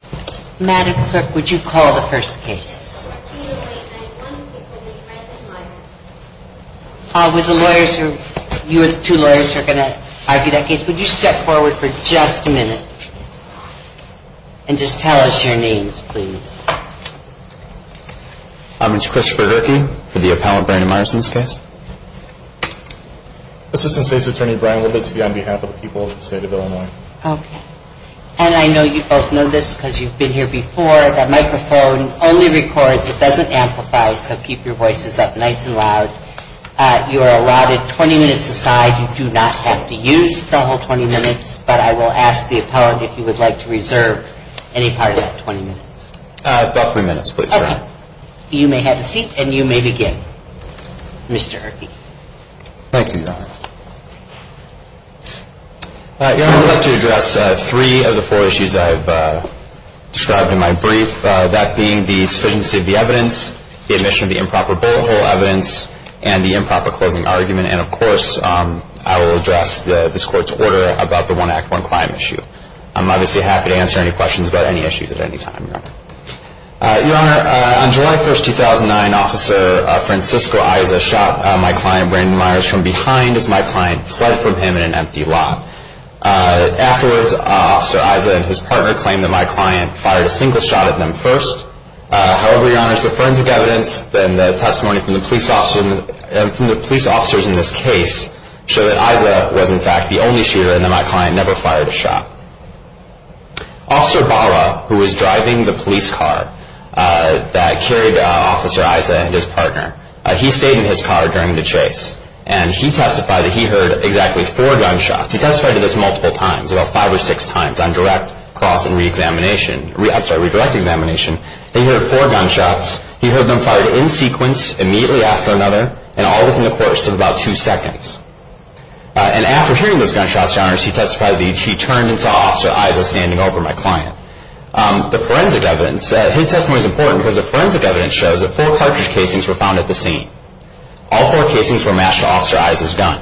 would you step forward for just a minute and just tell us your names please. I'm Mr. Christopher Herkey for the appellant Brandon Meyers in this case. Assistant State's Attorney Brian Wilberts on behalf of the people of the state of Illinois. And I know you both know this because you've been here before. The microphone only records, it doesn't amplify so keep your voices up nice and loud. You are allowed 20 minutes aside. You do not have to use the whole 20 minutes but I will ask the appellant if you would like to reserve any part of that 20 minutes. About three minutes please. Okay. You may have a seat and you may begin Mr. Herkey. Thank you Your Honor. Your Honor I would like to address three of the four issues I've described in my brief. That being the sufficiency of the evidence, the admission of the improper bullet hole evidence, and the improper closing argument. And of course I will address this court's order about the one act one crime issue. I'm obviously happy to answer any questions about any issues at any time Your Honor. Your Honor on July 1st 2009 Officer Francisco Iza shot my client Brandon Meyers from behind as my client fled from him in an empty lot. Afterwards Officer Iza and his partner claimed that my client fired a single shot at them first. However Your Honor the forensic evidence and the testimony from the police officers in this case show that Iza was in fact the only shooter and that my client never fired a shot. Officer Barra who was driving the police car that carried Officer Iza and his partner he stayed in his car during the chase. And he testified that he heard exactly four gunshots. He testified to this multiple times about five or six times on direct cross and reexamination. I'm sorry redirect examination. He heard four gunshots. He heard them fired in sequence immediately after another and all within the course of about two seconds. And after hearing those gunshots Your Honor he testified that he turned and saw Officer Iza standing over my client. The forensic evidence his testimony is important because the forensic evidence shows that four cartridge casings were found at the scene. All four casings were matched to Officer Iza's gun.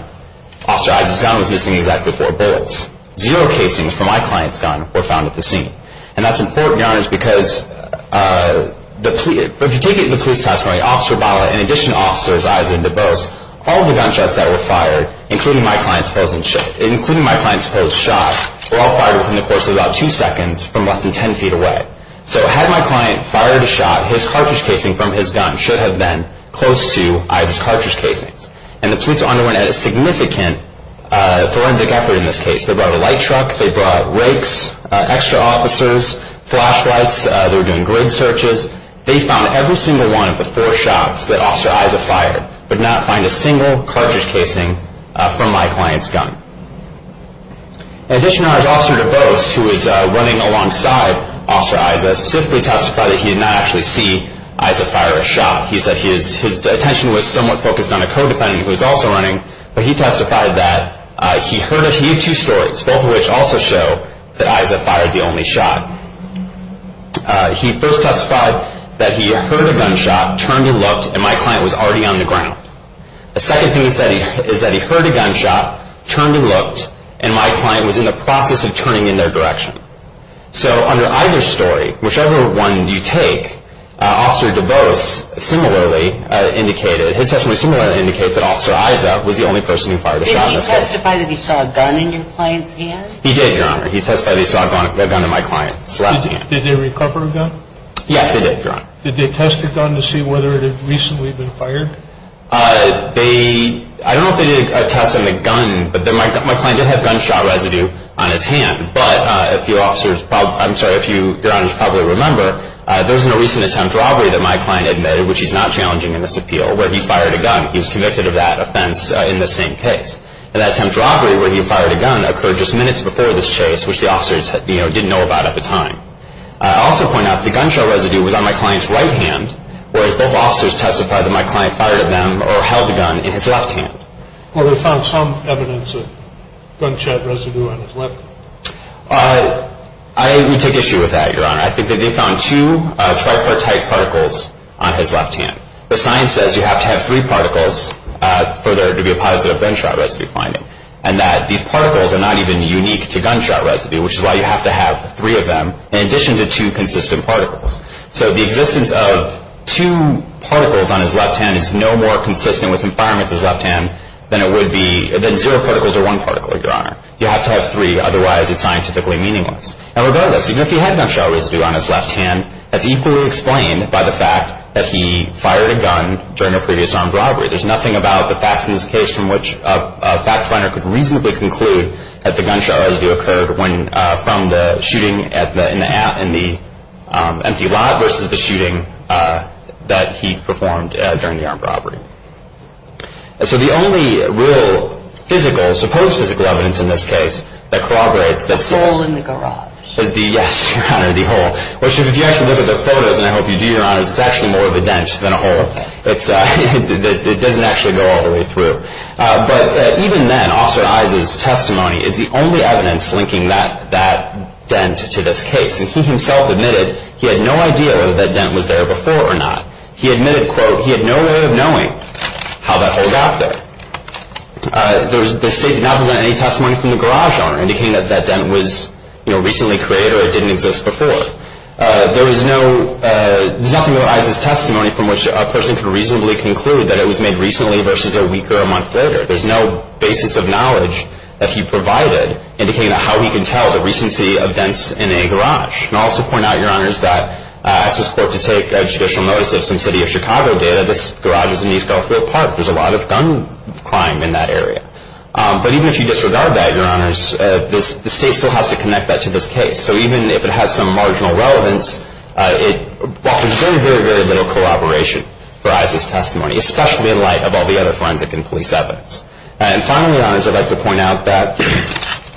Officer Iza's gun was missing exactly four bullets. Zero casings from my client's gun were found at the scene. And that's important Your Honor because if you take it in the police testimony Officer Barra in addition to Officer Iza and DuBose all the gunshots that were fired including my client's shot were all fired within the course of about two seconds from less than ten feet away. So had my client fired a shot his cartridge casing from his gun should have been close to Iza's cartridge casings. And the police underwent a significant forensic effort in this case. They brought a light truck. They brought rakes, extra officers, flashlights. They were doing grid searches. They found every single one of the four shots that Officer Iza fired but not find a single cartridge casing from my client's gun. In addition Your Honor Officer DuBose who was running alongside Officer Iza specifically testified that he did not actually see Iza fire a shot. He said his attention was somewhat focused on a co-defendant who was also running but he testified that he heard two stories both of which also show that Iza fired the only shot. He first testified that he heard a gunshot, turned and looked and my client was already on the ground. The second thing he said is that he heard a gunshot, turned and looked and my client was in the process of turning in their direction. So under either story, whichever one you take, Officer DuBose similarly indicated, his testimony similarly indicates that Officer Iza was the only person who fired a shot in this case. Did he testify that he saw a gun in your client's hand? He did Your Honor. He testified that he saw a gun in my client's left hand. Did they recover a gun? Yes they did Your Honor. Did they test the gun to see whether it had recently been fired? They, I don't know if they did a test on the gun but my client did have gunshot residue on his hand. But if you officers, I'm sorry, if you Your Honors probably remember, there was no recent attempt robbery that my client admitted, which he's not challenging in this appeal, where he fired a gun. He was convicted of that offense in this same case. And that attempt robbery where he fired a gun occurred just minutes before this chase which the officers didn't know about at the time. I also point out that the gunshot residue was on my client's right hand whereas both officers testified that my client fired at them or held a gun in his left hand. Well they found some evidence of gunshot residue on his left hand. I would take issue with that Your Honor. I think that they found two tripartite particles on his left hand. The science says you have to have three particles for there to be a positive gunshot residue finding. And that these particles are not even unique to gunshot residue which is why you have to have three of them in addition to two consistent particles. So the existence of two particles on his left hand is no more consistent with him firing with his left hand than it would be, than zero particles or one particle Your Honor. You have to have three, otherwise it's scientifically meaningless. And regardless, even if he had gunshot residue on his left hand, that's equally explained by the fact that he fired a gun during a previous armed robbery. There's nothing about the facts in this case from which a fact finder could reasonably conclude that the gunshot residue occurred from the shooting in the empty lot versus the shooting that he performed during the armed robbery. So the only real physical, supposed physical evidence in this case that corroborates... The hole in the garage. Yes Your Honor, the hole. Which if you actually look at the photos, and I hope you do Your Honor, it's actually more of a dent than a hole. It doesn't actually go all the way through. But even then, Officer Issa's testimony is the only evidence linking that dent to this case. And he himself admitted he had no idea whether that dent was there before or not. He admitted, quote, he had no way of knowing how that hole got there. The state did not present any testimony from the garage owner indicating that that dent was recently created or it didn't exist before. There was no... There's nothing about Issa's testimony from which a person could reasonably conclude that it was made recently versus a week or a month later. There's no basis of knowledge that he provided indicating how he can tell the recency of dents in a garage. And I'll also point out, Your Honors, that I asked this court to take a judicial notice of some city of Chicago data. This garage was in East Garfield Park. There's a lot of gun crime in that area. But even if you disregard that, Your Honors, the state still has to connect that to this case. So even if it has some marginal relevance, there's very, very little collaboration for Issa's testimony, especially in light of all the other forensic and police evidence. And finally, Your Honors, I'd like to point out that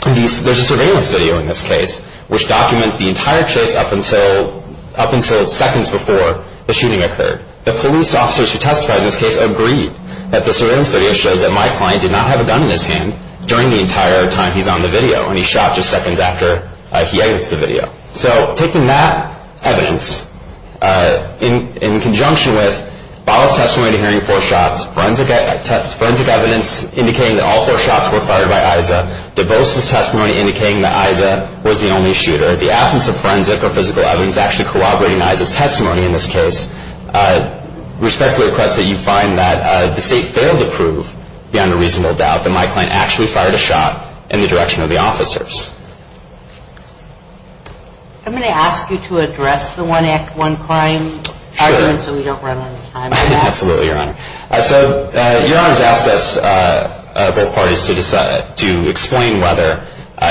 there's a surveillance video in this case which documents the entire chase up until seconds before the shooting occurred. The police officers who testified in this case agreed that the surveillance video shows that my client did not have a gun in his hand during the entire time he's on the video, and he shot just seconds after he exits the video. So taking that evidence in conjunction with Bottle's testimony to hearing four shots, forensic evidence indicating that all four shots were fired by Issa, DeVos' testimony indicating that Issa was the only shooter, the absence of forensic or physical evidence actually corroborating Issa's testimony in this case, respectfully request that you find that the state failed to prove beyond a reasonable doubt that my client actually fired a shot in the direction of the officers. I'm going to ask you to address the one act, one crime argument so we don't run out of time. Absolutely, Your Honor. So Your Honors asked us, both parties, to explain whether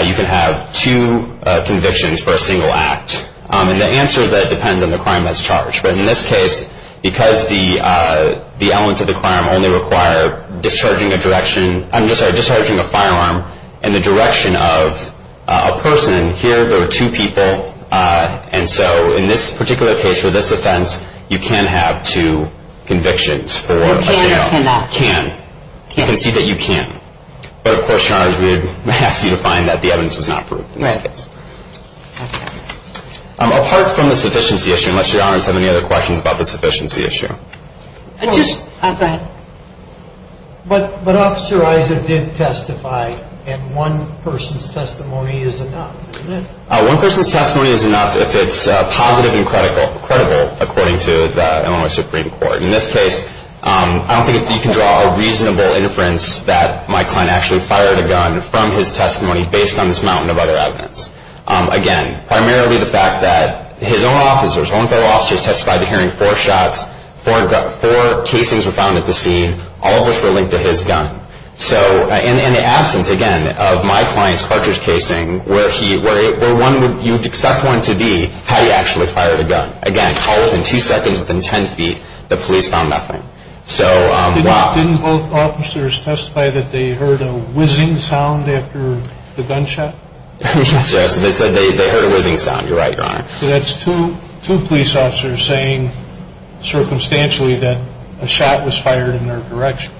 you can have two convictions for a single act. And the answer is that it depends on the crime that's charged. But in this case, because the elements of the crime only require discharging a direction, I'm sorry, discharging a firearm in the direction of a person, here there were two people, and so in this particular case, for this offense, you can have two convictions for a single act. You can or you cannot? Can. You can see that you can. But of course, Your Honors, we would ask you to find that the evidence was not proved in this case. Right. Okay. Apart from the sufficiency issue, unless Your Honors have any other questions about the sufficiency issue. Go ahead. But Officer Issa did testify, and one person's testimony is enough, isn't it? One person's testimony is enough if it's positive and credible, according to the Illinois Supreme Court. In this case, I don't think you can draw a reasonable inference that my client actually fired a gun from his testimony based on this mountain of other evidence. Again, primarily the fact that his own officers, his own fellow officers testified to hearing four shots, four casings were found at the scene, all of which were linked to his gun. So in the absence, again, of my client's cartridge casing, where you would expect one to be, how he actually fired a gun. Again, all within two seconds, within ten feet, the police found nothing. Didn't both officers testify that they heard a whizzing sound after the gunshot? Yes, Your Honor. So they said they heard a whizzing sound. You're right, Your Honor. So that's two police officers saying circumstantially that a shot was fired in their direction.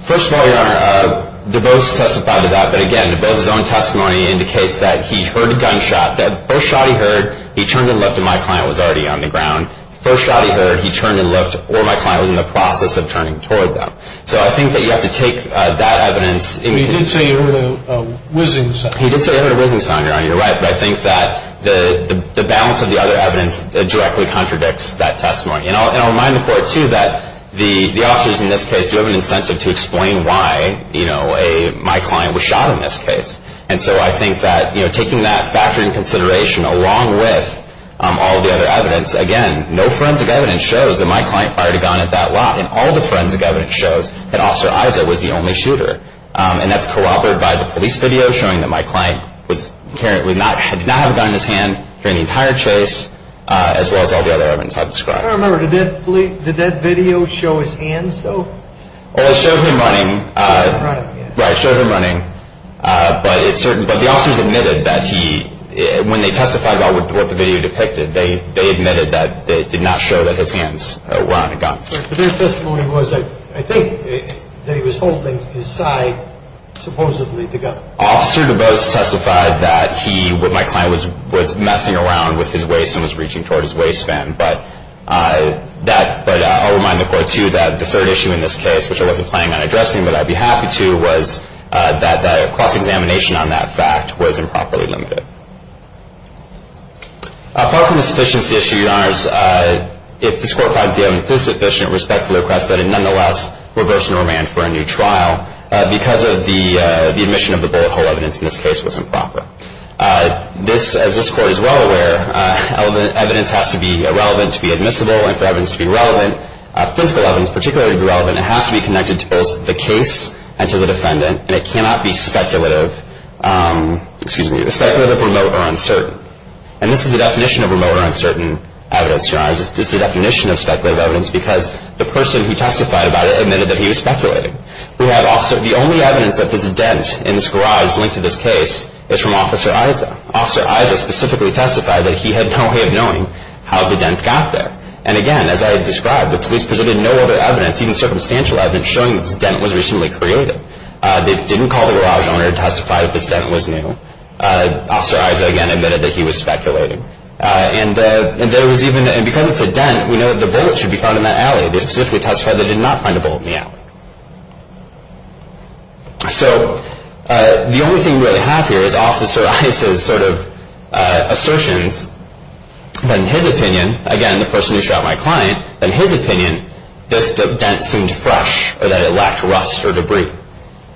First of all, Your Honor, Dubose testified to that. But again, Dubose's own testimony indicates that he heard a gunshot. That first shot he heard, he turned and looked, and my client was already on the ground. First shot he heard, he turned and looked, or my client was in the process of turning toward them. So I think that you have to take that evidence. He did say he heard a whizzing sound. He did say he heard a whizzing sound, Your Honor. You're right. But I think that the balance of the other evidence directly contradicts that testimony. And I'll remind the Court, too, that the officers in this case do have an incentive to explain why my client was shot in this case. And so I think that taking that factor in consideration, along with all the other evidence, again, no forensic evidence shows that my client fired a gun at that lot. And all the forensic evidence shows that Officer Iza was the only shooter. And that's corroborated by the police video showing that my client did not have a gun in his hand during the entire chase, as well as all the other evidence I've described. I don't remember. Did that video show his hands, though? It showed him running. Right, it showed him running. But the officers admitted that when they testified about what the video depicted, they admitted that it did not show that his hands were on a gun. But their testimony was, I think, that he was holding his side, supposedly, the gun. Officer DuBose testified that he, with my client, was messing around with his waist and was reaching toward his waistband. But I'll remind the Court, too, that the third issue in this case, which I wasn't planning on addressing but I'd be happy to, was that the cross-examination on that fact was improperly limited. Apart from the sufficiency issue, Your Honors, if this Court finds the evidence is sufficient, respectfully request that it nonetheless reverse normand for a new trial because the admission of the bullet hole evidence in this case was improper. As this Court is well aware, evidence has to be relevant to be admissible, and for evidence to be relevant, physical evidence particularly to be relevant, it has to be connected to both the case and to the defendant, and it cannot be speculative, excuse me, speculative, remote, or uncertain. And this is the definition of remote or uncertain evidence, Your Honors. This is the definition of speculative evidence because the person who testified about it admitted that he was speculating. The only evidence that this dent in this garage linked to this case is from Officer Iza. Officer Iza specifically testified that he had no way of knowing how the dents got there. And again, as I had described, the police presented no other evidence, even circumstantial evidence, showing that this dent was recently created. They didn't call the garage owner to testify that this dent was new. Officer Iza again admitted that he was speculating. And there was even, and because it's a dent, we know that the bullet should be found in that alley. They specifically testified they did not find a bullet in the alley. So the only thing we really have here is Officer Iza's sort of assertions, but in his opinion, again, the person who shot my client, in his opinion, this dent seemed fresh or that it lacked rust or debris.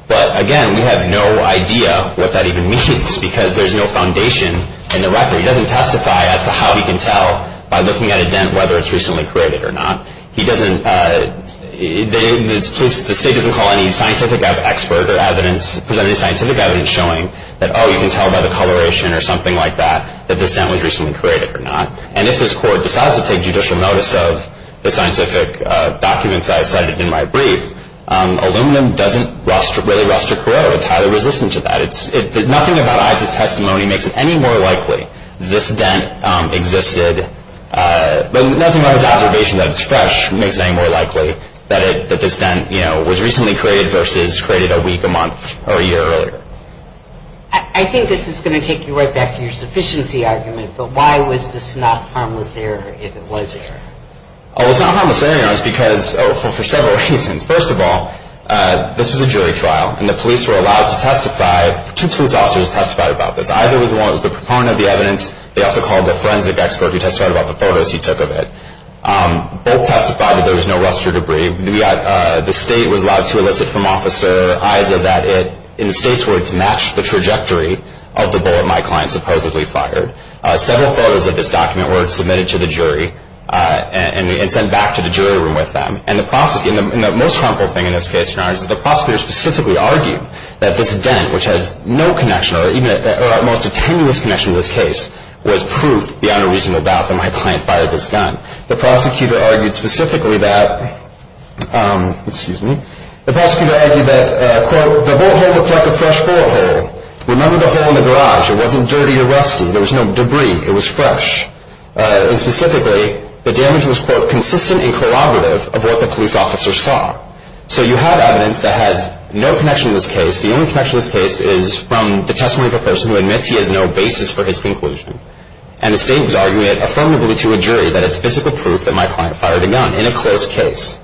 But again, we have no idea what that even means because there's no foundation in the record. He doesn't testify as to how he can tell by looking at a dent whether it's recently created or not. He doesn't, the state doesn't call any scientific expert or evidence, present any scientific evidence showing that, oh, you can tell by the coloration or something like that, that this dent was recently created or not. And if this court decides to take judicial notice of the scientific documents I cited in my brief, aluminum doesn't really rust or corrode. It's highly resistant to that. Nothing about Iza's testimony makes it any more likely this dent existed, but nothing about his observation that it's fresh makes it any more likely that this dent, you know, was recently created versus created a week, a month, or a year earlier. I think this is going to take you right back to your sufficiency argument, but why was this not harmless error if it was error? Oh, it's not harmless error because, oh, for several reasons. First of all, this was a jury trial, and the police were allowed to testify, two police officers testified about this. Iza was the one who was the proponent of the evidence. They also called a forensic expert who testified about the photos he took of it. Both testified that there was no rust or debris. The state was allowed to elicit from Officer Iza that it, in the state's words, matched the trajectory of the bullet my client supposedly fired. Several photos of this document were submitted to the jury and sent back to the jury room with them. And the most harmful thing in this case, Your Honor, is that the prosecutor specifically argued that this dent, which has no connection or at most a tenuous connection to this case, was proof beyond a reasonable doubt that my client fired this gun. The prosecutor argued specifically that, excuse me, the prosecutor argued that, quote, the bullet hole looked like a fresh bullet hole. Remember the hole in the garage. It wasn't dirty or rusty. There was no debris. It was fresh. And specifically, the damage was, quote, consistent and corroborative of what the police officer saw. So you have evidence that has no connection to this case. The only connection to this case is from the testimony of a person who admits he has no basis for his conclusion. And the state was arguing it affirmatively to a jury that it's physical proof that my client fired a gun in a close case.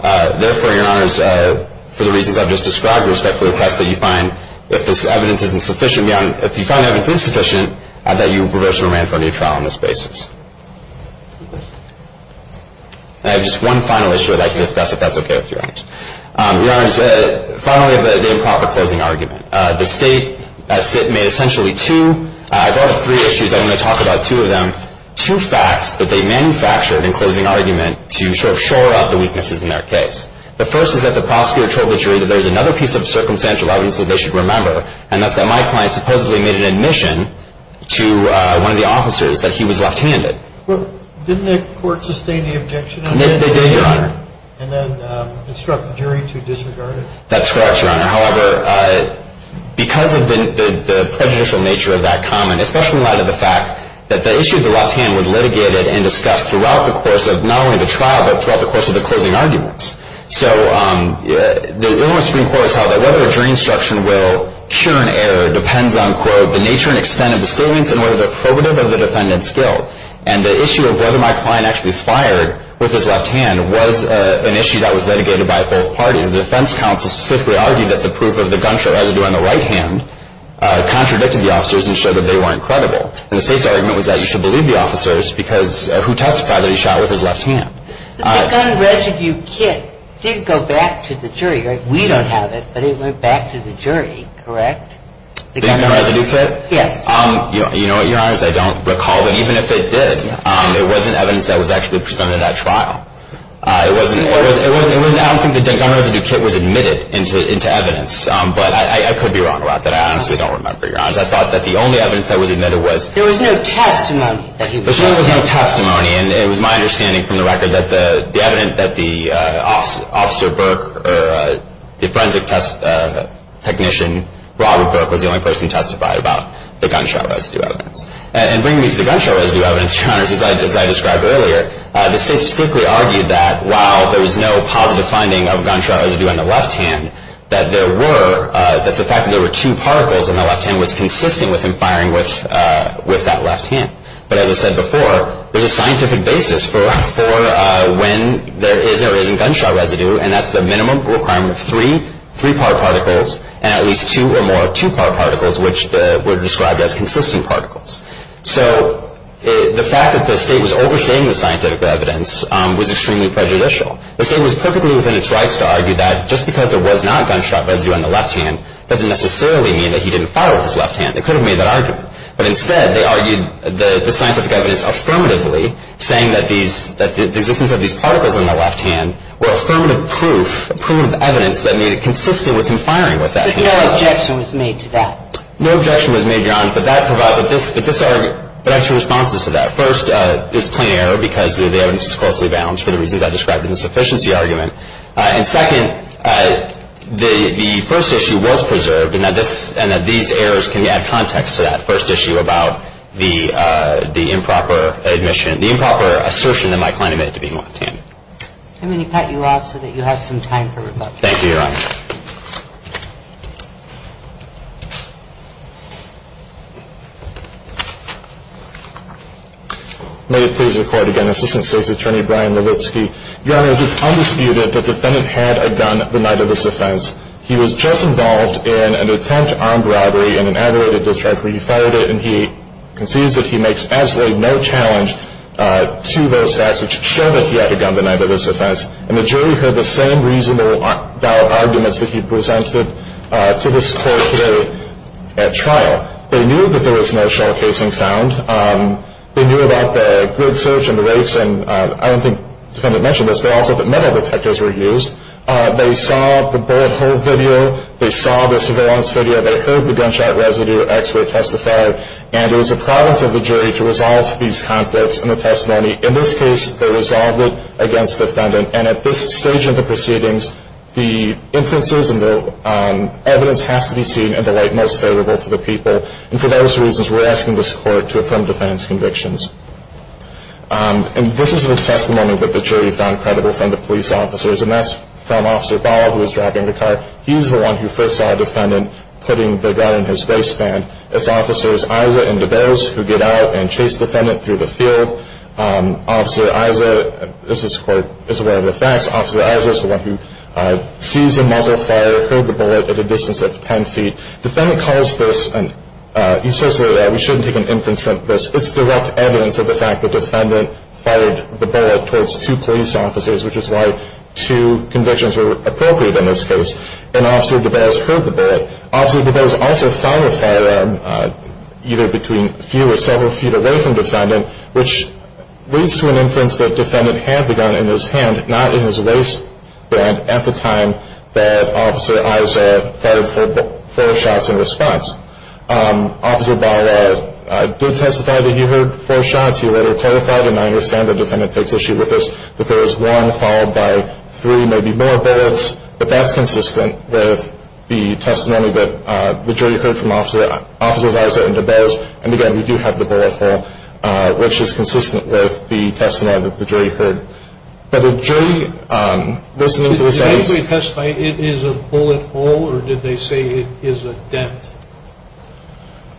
Therefore, Your Honor, for the reasons I've just described, respectfully request that you find, if this evidence is insufficient beyond, if you find the evidence insufficient, that you reverse your remand for a new trial on this basis. I have just one final issue that I can discuss if that's okay with Your Honor. Your Honor, finally, the improper closing argument. The state made essentially two, I brought up three issues. I want to talk about two of them. Two facts that they manufactured in closing argument to sort of shore up the weaknesses in their case. The first is that the prosecutor told the jury that there's another piece of circumstantial evidence that they should remember, and that's that my client supposedly made an admission to one of the officers that he was left-handed. Didn't the court sustain the objection? They did, Your Honor. And then instruct the jury to disregard it? That's correct, Your Honor. However, because of the prejudicial nature of that comment, especially in light of the fact that the issue of the left hand was litigated and discussed throughout the course of not only the trial, but throughout the course of the closing arguments. So the Illinois Supreme Court has held that whether a jury instruction will cure an error depends on, quote, the nature and extent of the statements and whether they're probative of the defendant's guilt. And the issue of whether my client actually fired with his left hand was an issue that was litigated by both parties. The defense counsel specifically argued that the proof of the gunshot residue on the right hand contradicted the officers and showed that they weren't credible. And the state's argument was that you should believe the officers who testified that he shot with his left hand. The gun residue kit did go back to the jury, right? We don't have it, but it went back to the jury, correct? The gun residue kit? Yes. You know what, Your Honor? I don't recall that even if it did, there wasn't evidence that was actually presented at trial. I don't think the gun residue kit was admitted into evidence, but I could be wrong about that. I honestly don't remember, Your Honor. I thought that the only evidence that was admitted was... There was no testimony. There certainly was no testimony, and it was my understanding from the record that the evidence that the Officer Burke or the Forensic Technician Robert Burke was the only person who testified about the gunshot residue evidence. And bringing me to the gunshot residue evidence, Your Honor, as I described earlier, the State specifically argued that while there was no positive finding of gunshot residue on the left hand, that there were, that the fact that there were two particles on the left hand was consistent with him firing with that left hand. But as I said before, there's a scientific basis for when there is or isn't gunshot residue, and that's the minimum requirement of three, three-part particles, and at least two or more two-part particles, which were described as consistent particles. So the fact that the State was overstating the scientific evidence was extremely prejudicial. The State was perfectly within its rights to argue that just because there was not gunshot residue on the left hand doesn't necessarily mean that he didn't fire with his left hand. They could have made that argument. But instead, they argued the scientific evidence affirmatively, saying that the existence of these particles on the left hand were affirmative proof, prudent evidence that made it consistent with him firing with that left hand. But no objection was made to that. No objection was made, John, but I have two responses to that. First, it was a plain error because the evidence was closely balanced for the reasons I described in the sufficiency argument. And second, the first issue was preserved, and that these errors can add context to that first issue about the improper admission, the improper assertion that my client made to being left-handed. Let me pat you off so that you have some time for rebuttal. Thank you, Your Honor. May it please the Court again, Assistant State's Attorney Brian Malitsky. Your Honor, as it's undisputed, the defendant had a gun the night of this offense. He was just involved in an attempt armed robbery in an aggravated discharge where he fired it, and he concedes that he makes absolutely no challenge to those facts which show that he had a gun the night of this offense. And the jury heard the same reasonable arguments that he presented to this Court today. At trial, they knew that there was no shell casing found. They knew about the grid search and the rakes, and I don't think the defendant mentioned this, but also that metal detectors were used. They saw the bullet hole video. They saw the surveillance video. They heard the gunshot residue expert testify, and it was the province of the jury to resolve these conflicts in the testimony. In this case, they resolved it against the defendant, and at this stage of the proceedings, the inferences and the evidence has to be seen in the light most favorable to the people. And for those reasons, we're asking this Court to affirm defendant's convictions. And this is the testimony that the jury found credible from the police officers, and that's from Officer Ball, who was driving the car. He's the one who first saw the defendant putting the gun in his waistband. It's Officers Iza and DeBose who get out and chase the defendant through the field. Officer Iza, this Court is aware of the facts, Officer Iza is the one who sees the muzzle fire, heard the bullet at a distance of 10 feet. Defendant calls this, and he says that we shouldn't take an inference from this. It's direct evidence of the fact that defendant fired the bullet towards two police officers, which is why two convictions were appropriate in this case. And Officer DeBose heard the bullet. Officer DeBose also found a firearm either between a few or several feet away from defendant, which leads to an inference that defendant had the gun in his hand, not in his waistband at the time that Officer Iza fired four shots in response. Officer Ball did testify that he heard four shots. He later clarified, and I understand the defendant takes issue with this, that there was one followed by three, maybe more bullets. But that's consistent with the testimony that the jury heard from Officers Iza and DeBose. And, again, we do have the bullet hole, which is consistent with the testimony that the jury heard. But the jury, listening to the sayings. Did anybody testify it is a bullet hole, or did they say it is a dent?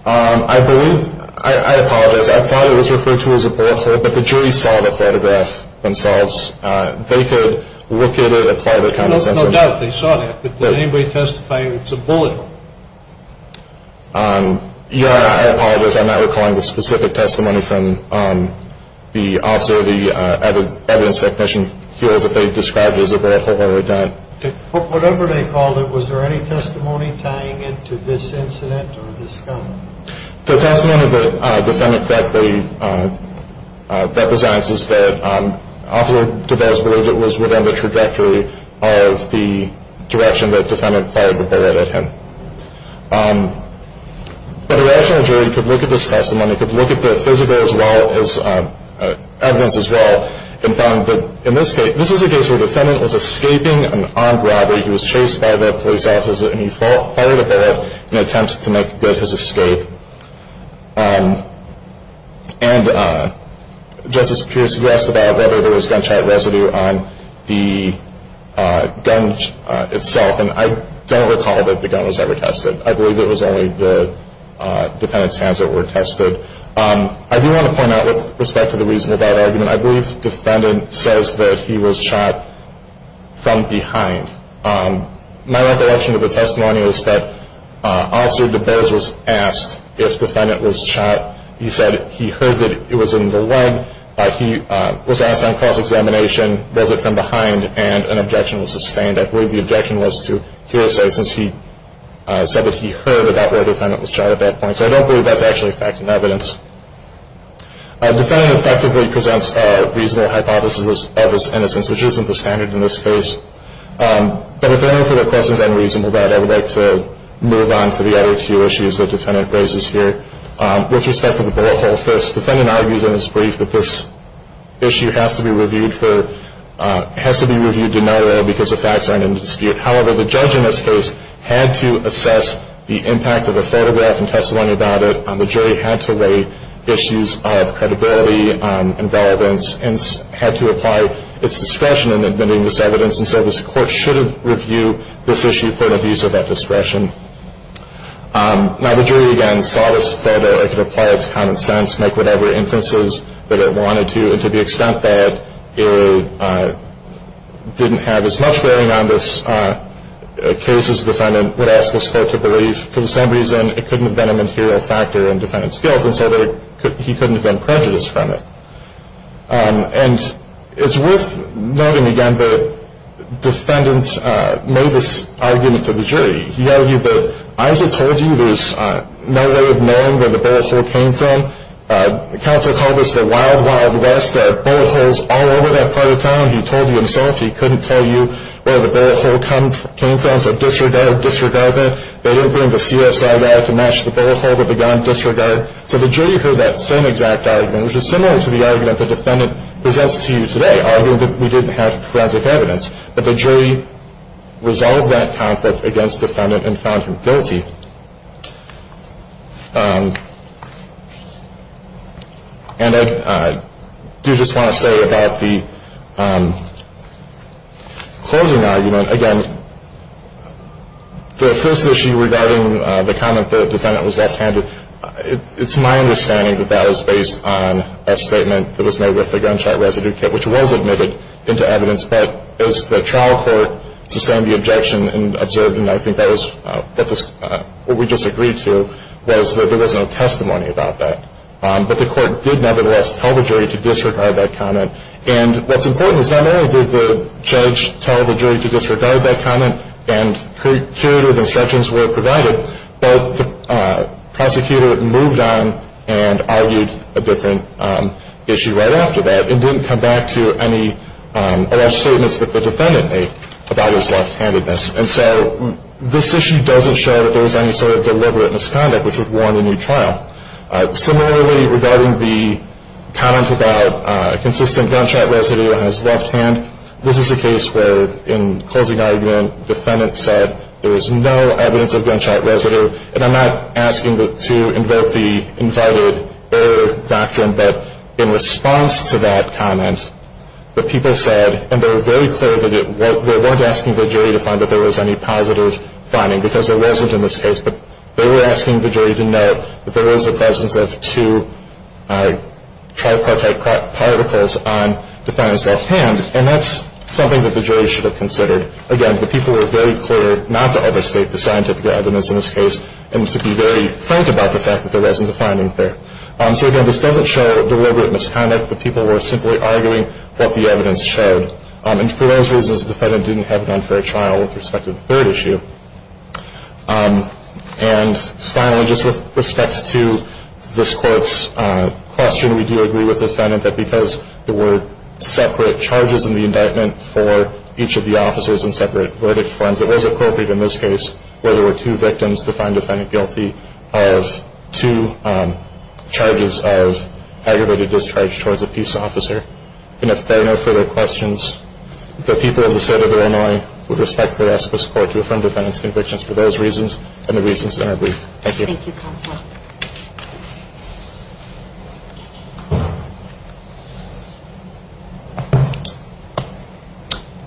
I believe, I apologize, I thought it was referred to as a bullet hole, but the jury saw the photograph themselves. They could look at it, apply their condescension. No doubt they saw that, but did anybody testify it's a bullet hole? Yeah, I apologize. I'm not recalling the specific testimony from the officer, the evidence technician feels that they described it as a bullet hole or a dent. Whatever they called it, was there any testimony tying it to this incident or this gun? The testimony that the defendant correctly represents is that it was within the trajectory of the direction that the defendant fired the bullet at him. But a rational jury could look at this testimony, could look at the physical evidence as well, and found that in this case, this is a case where the defendant was escaping an armed robbery. He was chased by the police officer, and he fired a bullet in an attempt to make good his escape. And Justice Pierce, you asked about whether there was gunshot residue on the gun itself, and I don't recall that the gun was ever tested. I believe it was only the defendant's hands that were tested. I do want to point out with respect to the reason for that argument, I believe the defendant says that he was shot from behind. My recollection of the testimony is that Officer DeBose was asked if the defendant was shot. He said he heard that it was in the leg. He was asked on cross-examination, was it from behind, and an objection was sustained. I believe the objection was to Pierce, since he said that he heard about where the defendant was shot at that point. So I don't believe that's actually fact and evidence. The defendant effectively presents a reasonable hypothesis of his innocence, which isn't the standard in this case. But if there are no further questions on reasonable doubt, I would like to move on to the other two issues that the defendant raises here. With respect to the bullet hole, first, the defendant argues in his brief that this issue has to be reviewed denoted because the facts aren't in dispute. However, the judge in this case had to assess the impact of the photograph and testimony about it. The jury had to weigh issues of credibility and relevance and had to apply its discretion in admitting this evidence. And so this court should have reviewed this issue for an abuse of that discretion. Now, the jury, again, saw this photo. It could apply its common sense, make whatever inferences that it wanted to. And to the extent that it didn't have as much bearing on this case as the defendant, I would ask this court to believe for some reason it couldn't have been a material factor in defendant's guilt and so he couldn't have been prejudiced from it. And it's worth noting, again, the defendant made this argument to the jury. He argued that as I told you, there's no way of knowing where the bullet hole came from. Counsel called this the wild, wild west. There are bullet holes all over that part of town. He told you himself he couldn't tell you where the bullet hole came from. So disregard, disregardment. They didn't bring the CSI guy to match the bullet hole with the gun. Disregard. So the jury heard that same exact argument, which is similar to the argument the defendant presents to you today, arguing that we didn't have forensic evidence. And I do just want to say about the closing argument, again, the first issue regarding the comment the defendant was left-handed, it's my understanding that that was based on a statement that was made with the gunshot residue kit, which was admitted into evidence. But as the trial court sustained the objection and observed, and I think that was what we just agreed to, was that there was no testimony about that. But the court did nevertheless tell the jury to disregard that comment. And what's important is not only did the judge tell the jury to disregard that comment and curative instructions were provided, but the prosecutor moved on and argued a different issue right after that. It didn't come back to any alleged statements that the defendant made about his left-handedness. And so this issue doesn't show that there was any sort of deliberate misconduct, which would warn a new trial. Similarly, regarding the comment about consistent gunshot residue on his left hand, this is a case where, in closing argument, the defendant said there was no evidence of gunshot residue. And I'm not asking to invert the invited error doctrine, but in response to that comment, the people said, and they were very clear that they weren't asking the jury to find that there was any positive finding, because there wasn't in this case, but they were asking the jury to note that there was the presence of two tripartite particles on the defendant's left hand. And that's something that the jury should have considered. Again, the people were very clear not to overstate the scientific evidence in this case and to be very frank about the fact that there wasn't a finding there. So, again, this doesn't show deliberate misconduct. The people were simply arguing what the evidence showed. And for those reasons, the defendant didn't have an unfair trial with respect to the third issue. And finally, just with respect to this court's question, we do agree with the defendant that because there were separate charges in the indictment for each of the officers in separate verdict forms, it was appropriate in this case where there were two victims to find the defendant guilty of two charges of aggravated discharge towards a peace officer. And if there are no further questions, the people of the State of Illinois would respectfully ask this court to affirm the defendant's convictions for those reasons and the reasons in our brief. Thank you. Thank you, counsel.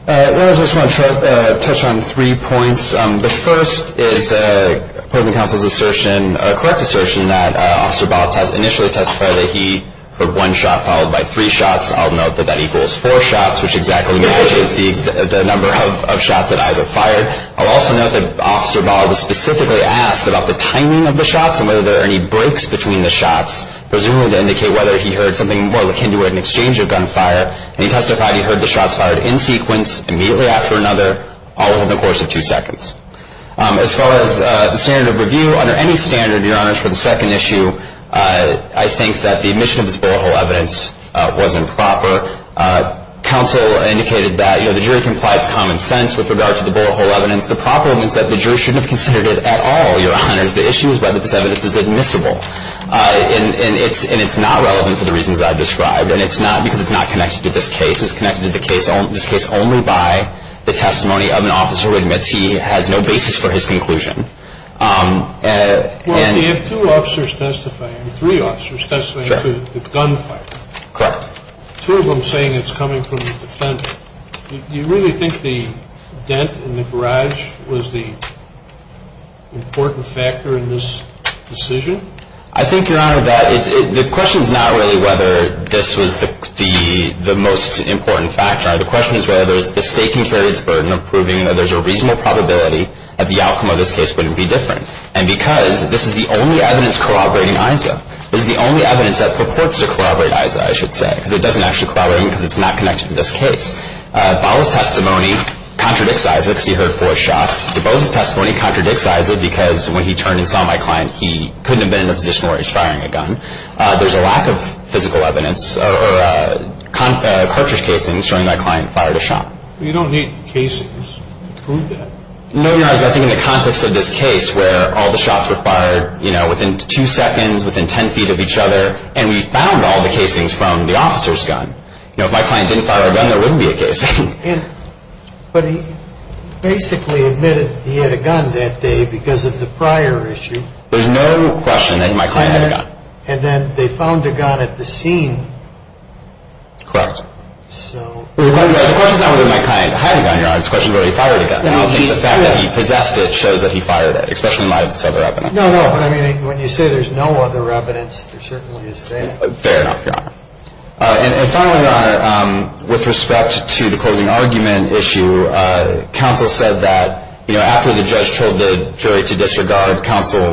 I just want to touch on three points. The first is the opposing counsel's assertion, correct assertion, that Officer Ball initially testified that he heard one shot followed by three shots. I'll note that that equals four shots, which exactly matches the number of shots that Iza fired. I'll also note that Officer Ball was specifically asked about the timing of the shots and whether there are any breaks between the shots, presumably to indicate whether he heard something more like hindering an exchange of gunfire. And he testified he heard the shots fired in sequence, immediately after another, all within the course of two seconds. As far as the standard of review, under any standard, Your Honors, for the second issue, I think that the admission of this bullet hole evidence wasn't proper. Counsel indicated that the jury complied to common sense with regard to the bullet hole evidence. The problem is that the jury shouldn't have considered it at all, Your Honors. The issue is whether this evidence is admissible. And it's not relevant for the reasons I've described, because it's not connected to this case. This is connected to this case only by the testimony of an officer who admits he has no basis for his conclusion. Well, you have two officers testifying, three officers testifying to the gunfire. Correct. Two of them saying it's coming from the defender. Do you really think the dent in the garage was the important factor in this decision? I think, Your Honor, that the question is not really whether this was the most important factor. The question is whether the staking carried its burden of proving that there's a reasonable probability that the outcome of this case wouldn't be different. And because this is the only evidence corroborating ISA, this is the only evidence that purports to corroborate ISA, I should say, because it doesn't actually corroborate because it's not connected to this case. Bala's testimony contradicts ISA because he heard four shots. DeBose's testimony contradicts ISA because when he turned and saw my client, he couldn't have been in a position where he was firing a gun. There's a lack of physical evidence or cartridge casings showing my client fired a shot. You don't need casings to prove that. No, Your Honor. I think in the context of this case where all the shots were fired, you know, within two seconds, within ten feet of each other, and we found all the casings from the officer's gun. You know, if my client didn't fire a gun, there wouldn't be a casing. But he basically admitted he had a gun that day because of the prior issue. There's no question that my client had a gun. And then they found a gun at the scene. Correct. The question is not whether my client had a gun, Your Honor. The question is whether he fired a gun. The fact that he possessed it shows that he fired it, especially in light of this other evidence. No, no. When you say there's no other evidence, there certainly is that. Fair enough, Your Honor. And finally, Your Honor, with respect to the closing argument issue, counsel said that, you know, after the judge told the jury to disregard counsel,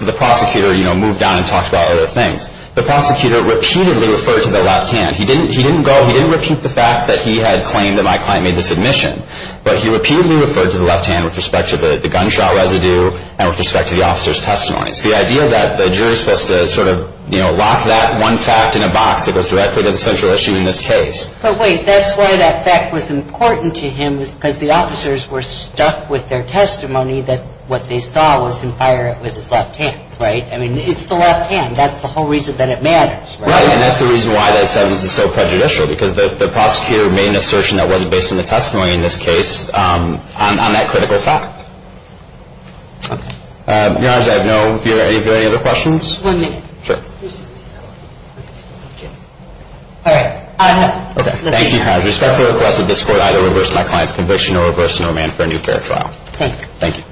the prosecutor, you know, moved on and talked about other things. The prosecutor repeatedly referred to the left hand. He didn't go, he didn't repeat the fact that he had claimed that my client made the submission. But he repeatedly referred to the left hand with respect to the gunshot residue and with respect to the officer's testimony. It's the idea that the jury is supposed to sort of, you know, lock that one fact in a box that goes directly to the central issue in this case. But wait, that's why that fact was important to him, because the officers were stuck with their testimony that what they saw was him fire it with his left hand. Right? I mean, it's the left hand. That's the whole reason that it matters. Right? And that's the reason why that sentence is so prejudicial, because the prosecutor made an assertion that wasn't based on the testimony in this case on that critical fact. Okay. Your Honor, I have no further questions. One minute. Sure. All right. Thank you, Your Honor. With respect to the request of this Court, I would reverse my client's conviction or reverse no man for a new fair trial. Thank you. Thank you.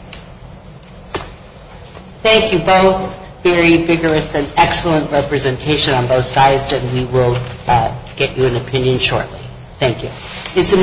Thank you both. Very vigorous and excellent representation on both sides, and we will get you an opinion shortly. Thank you.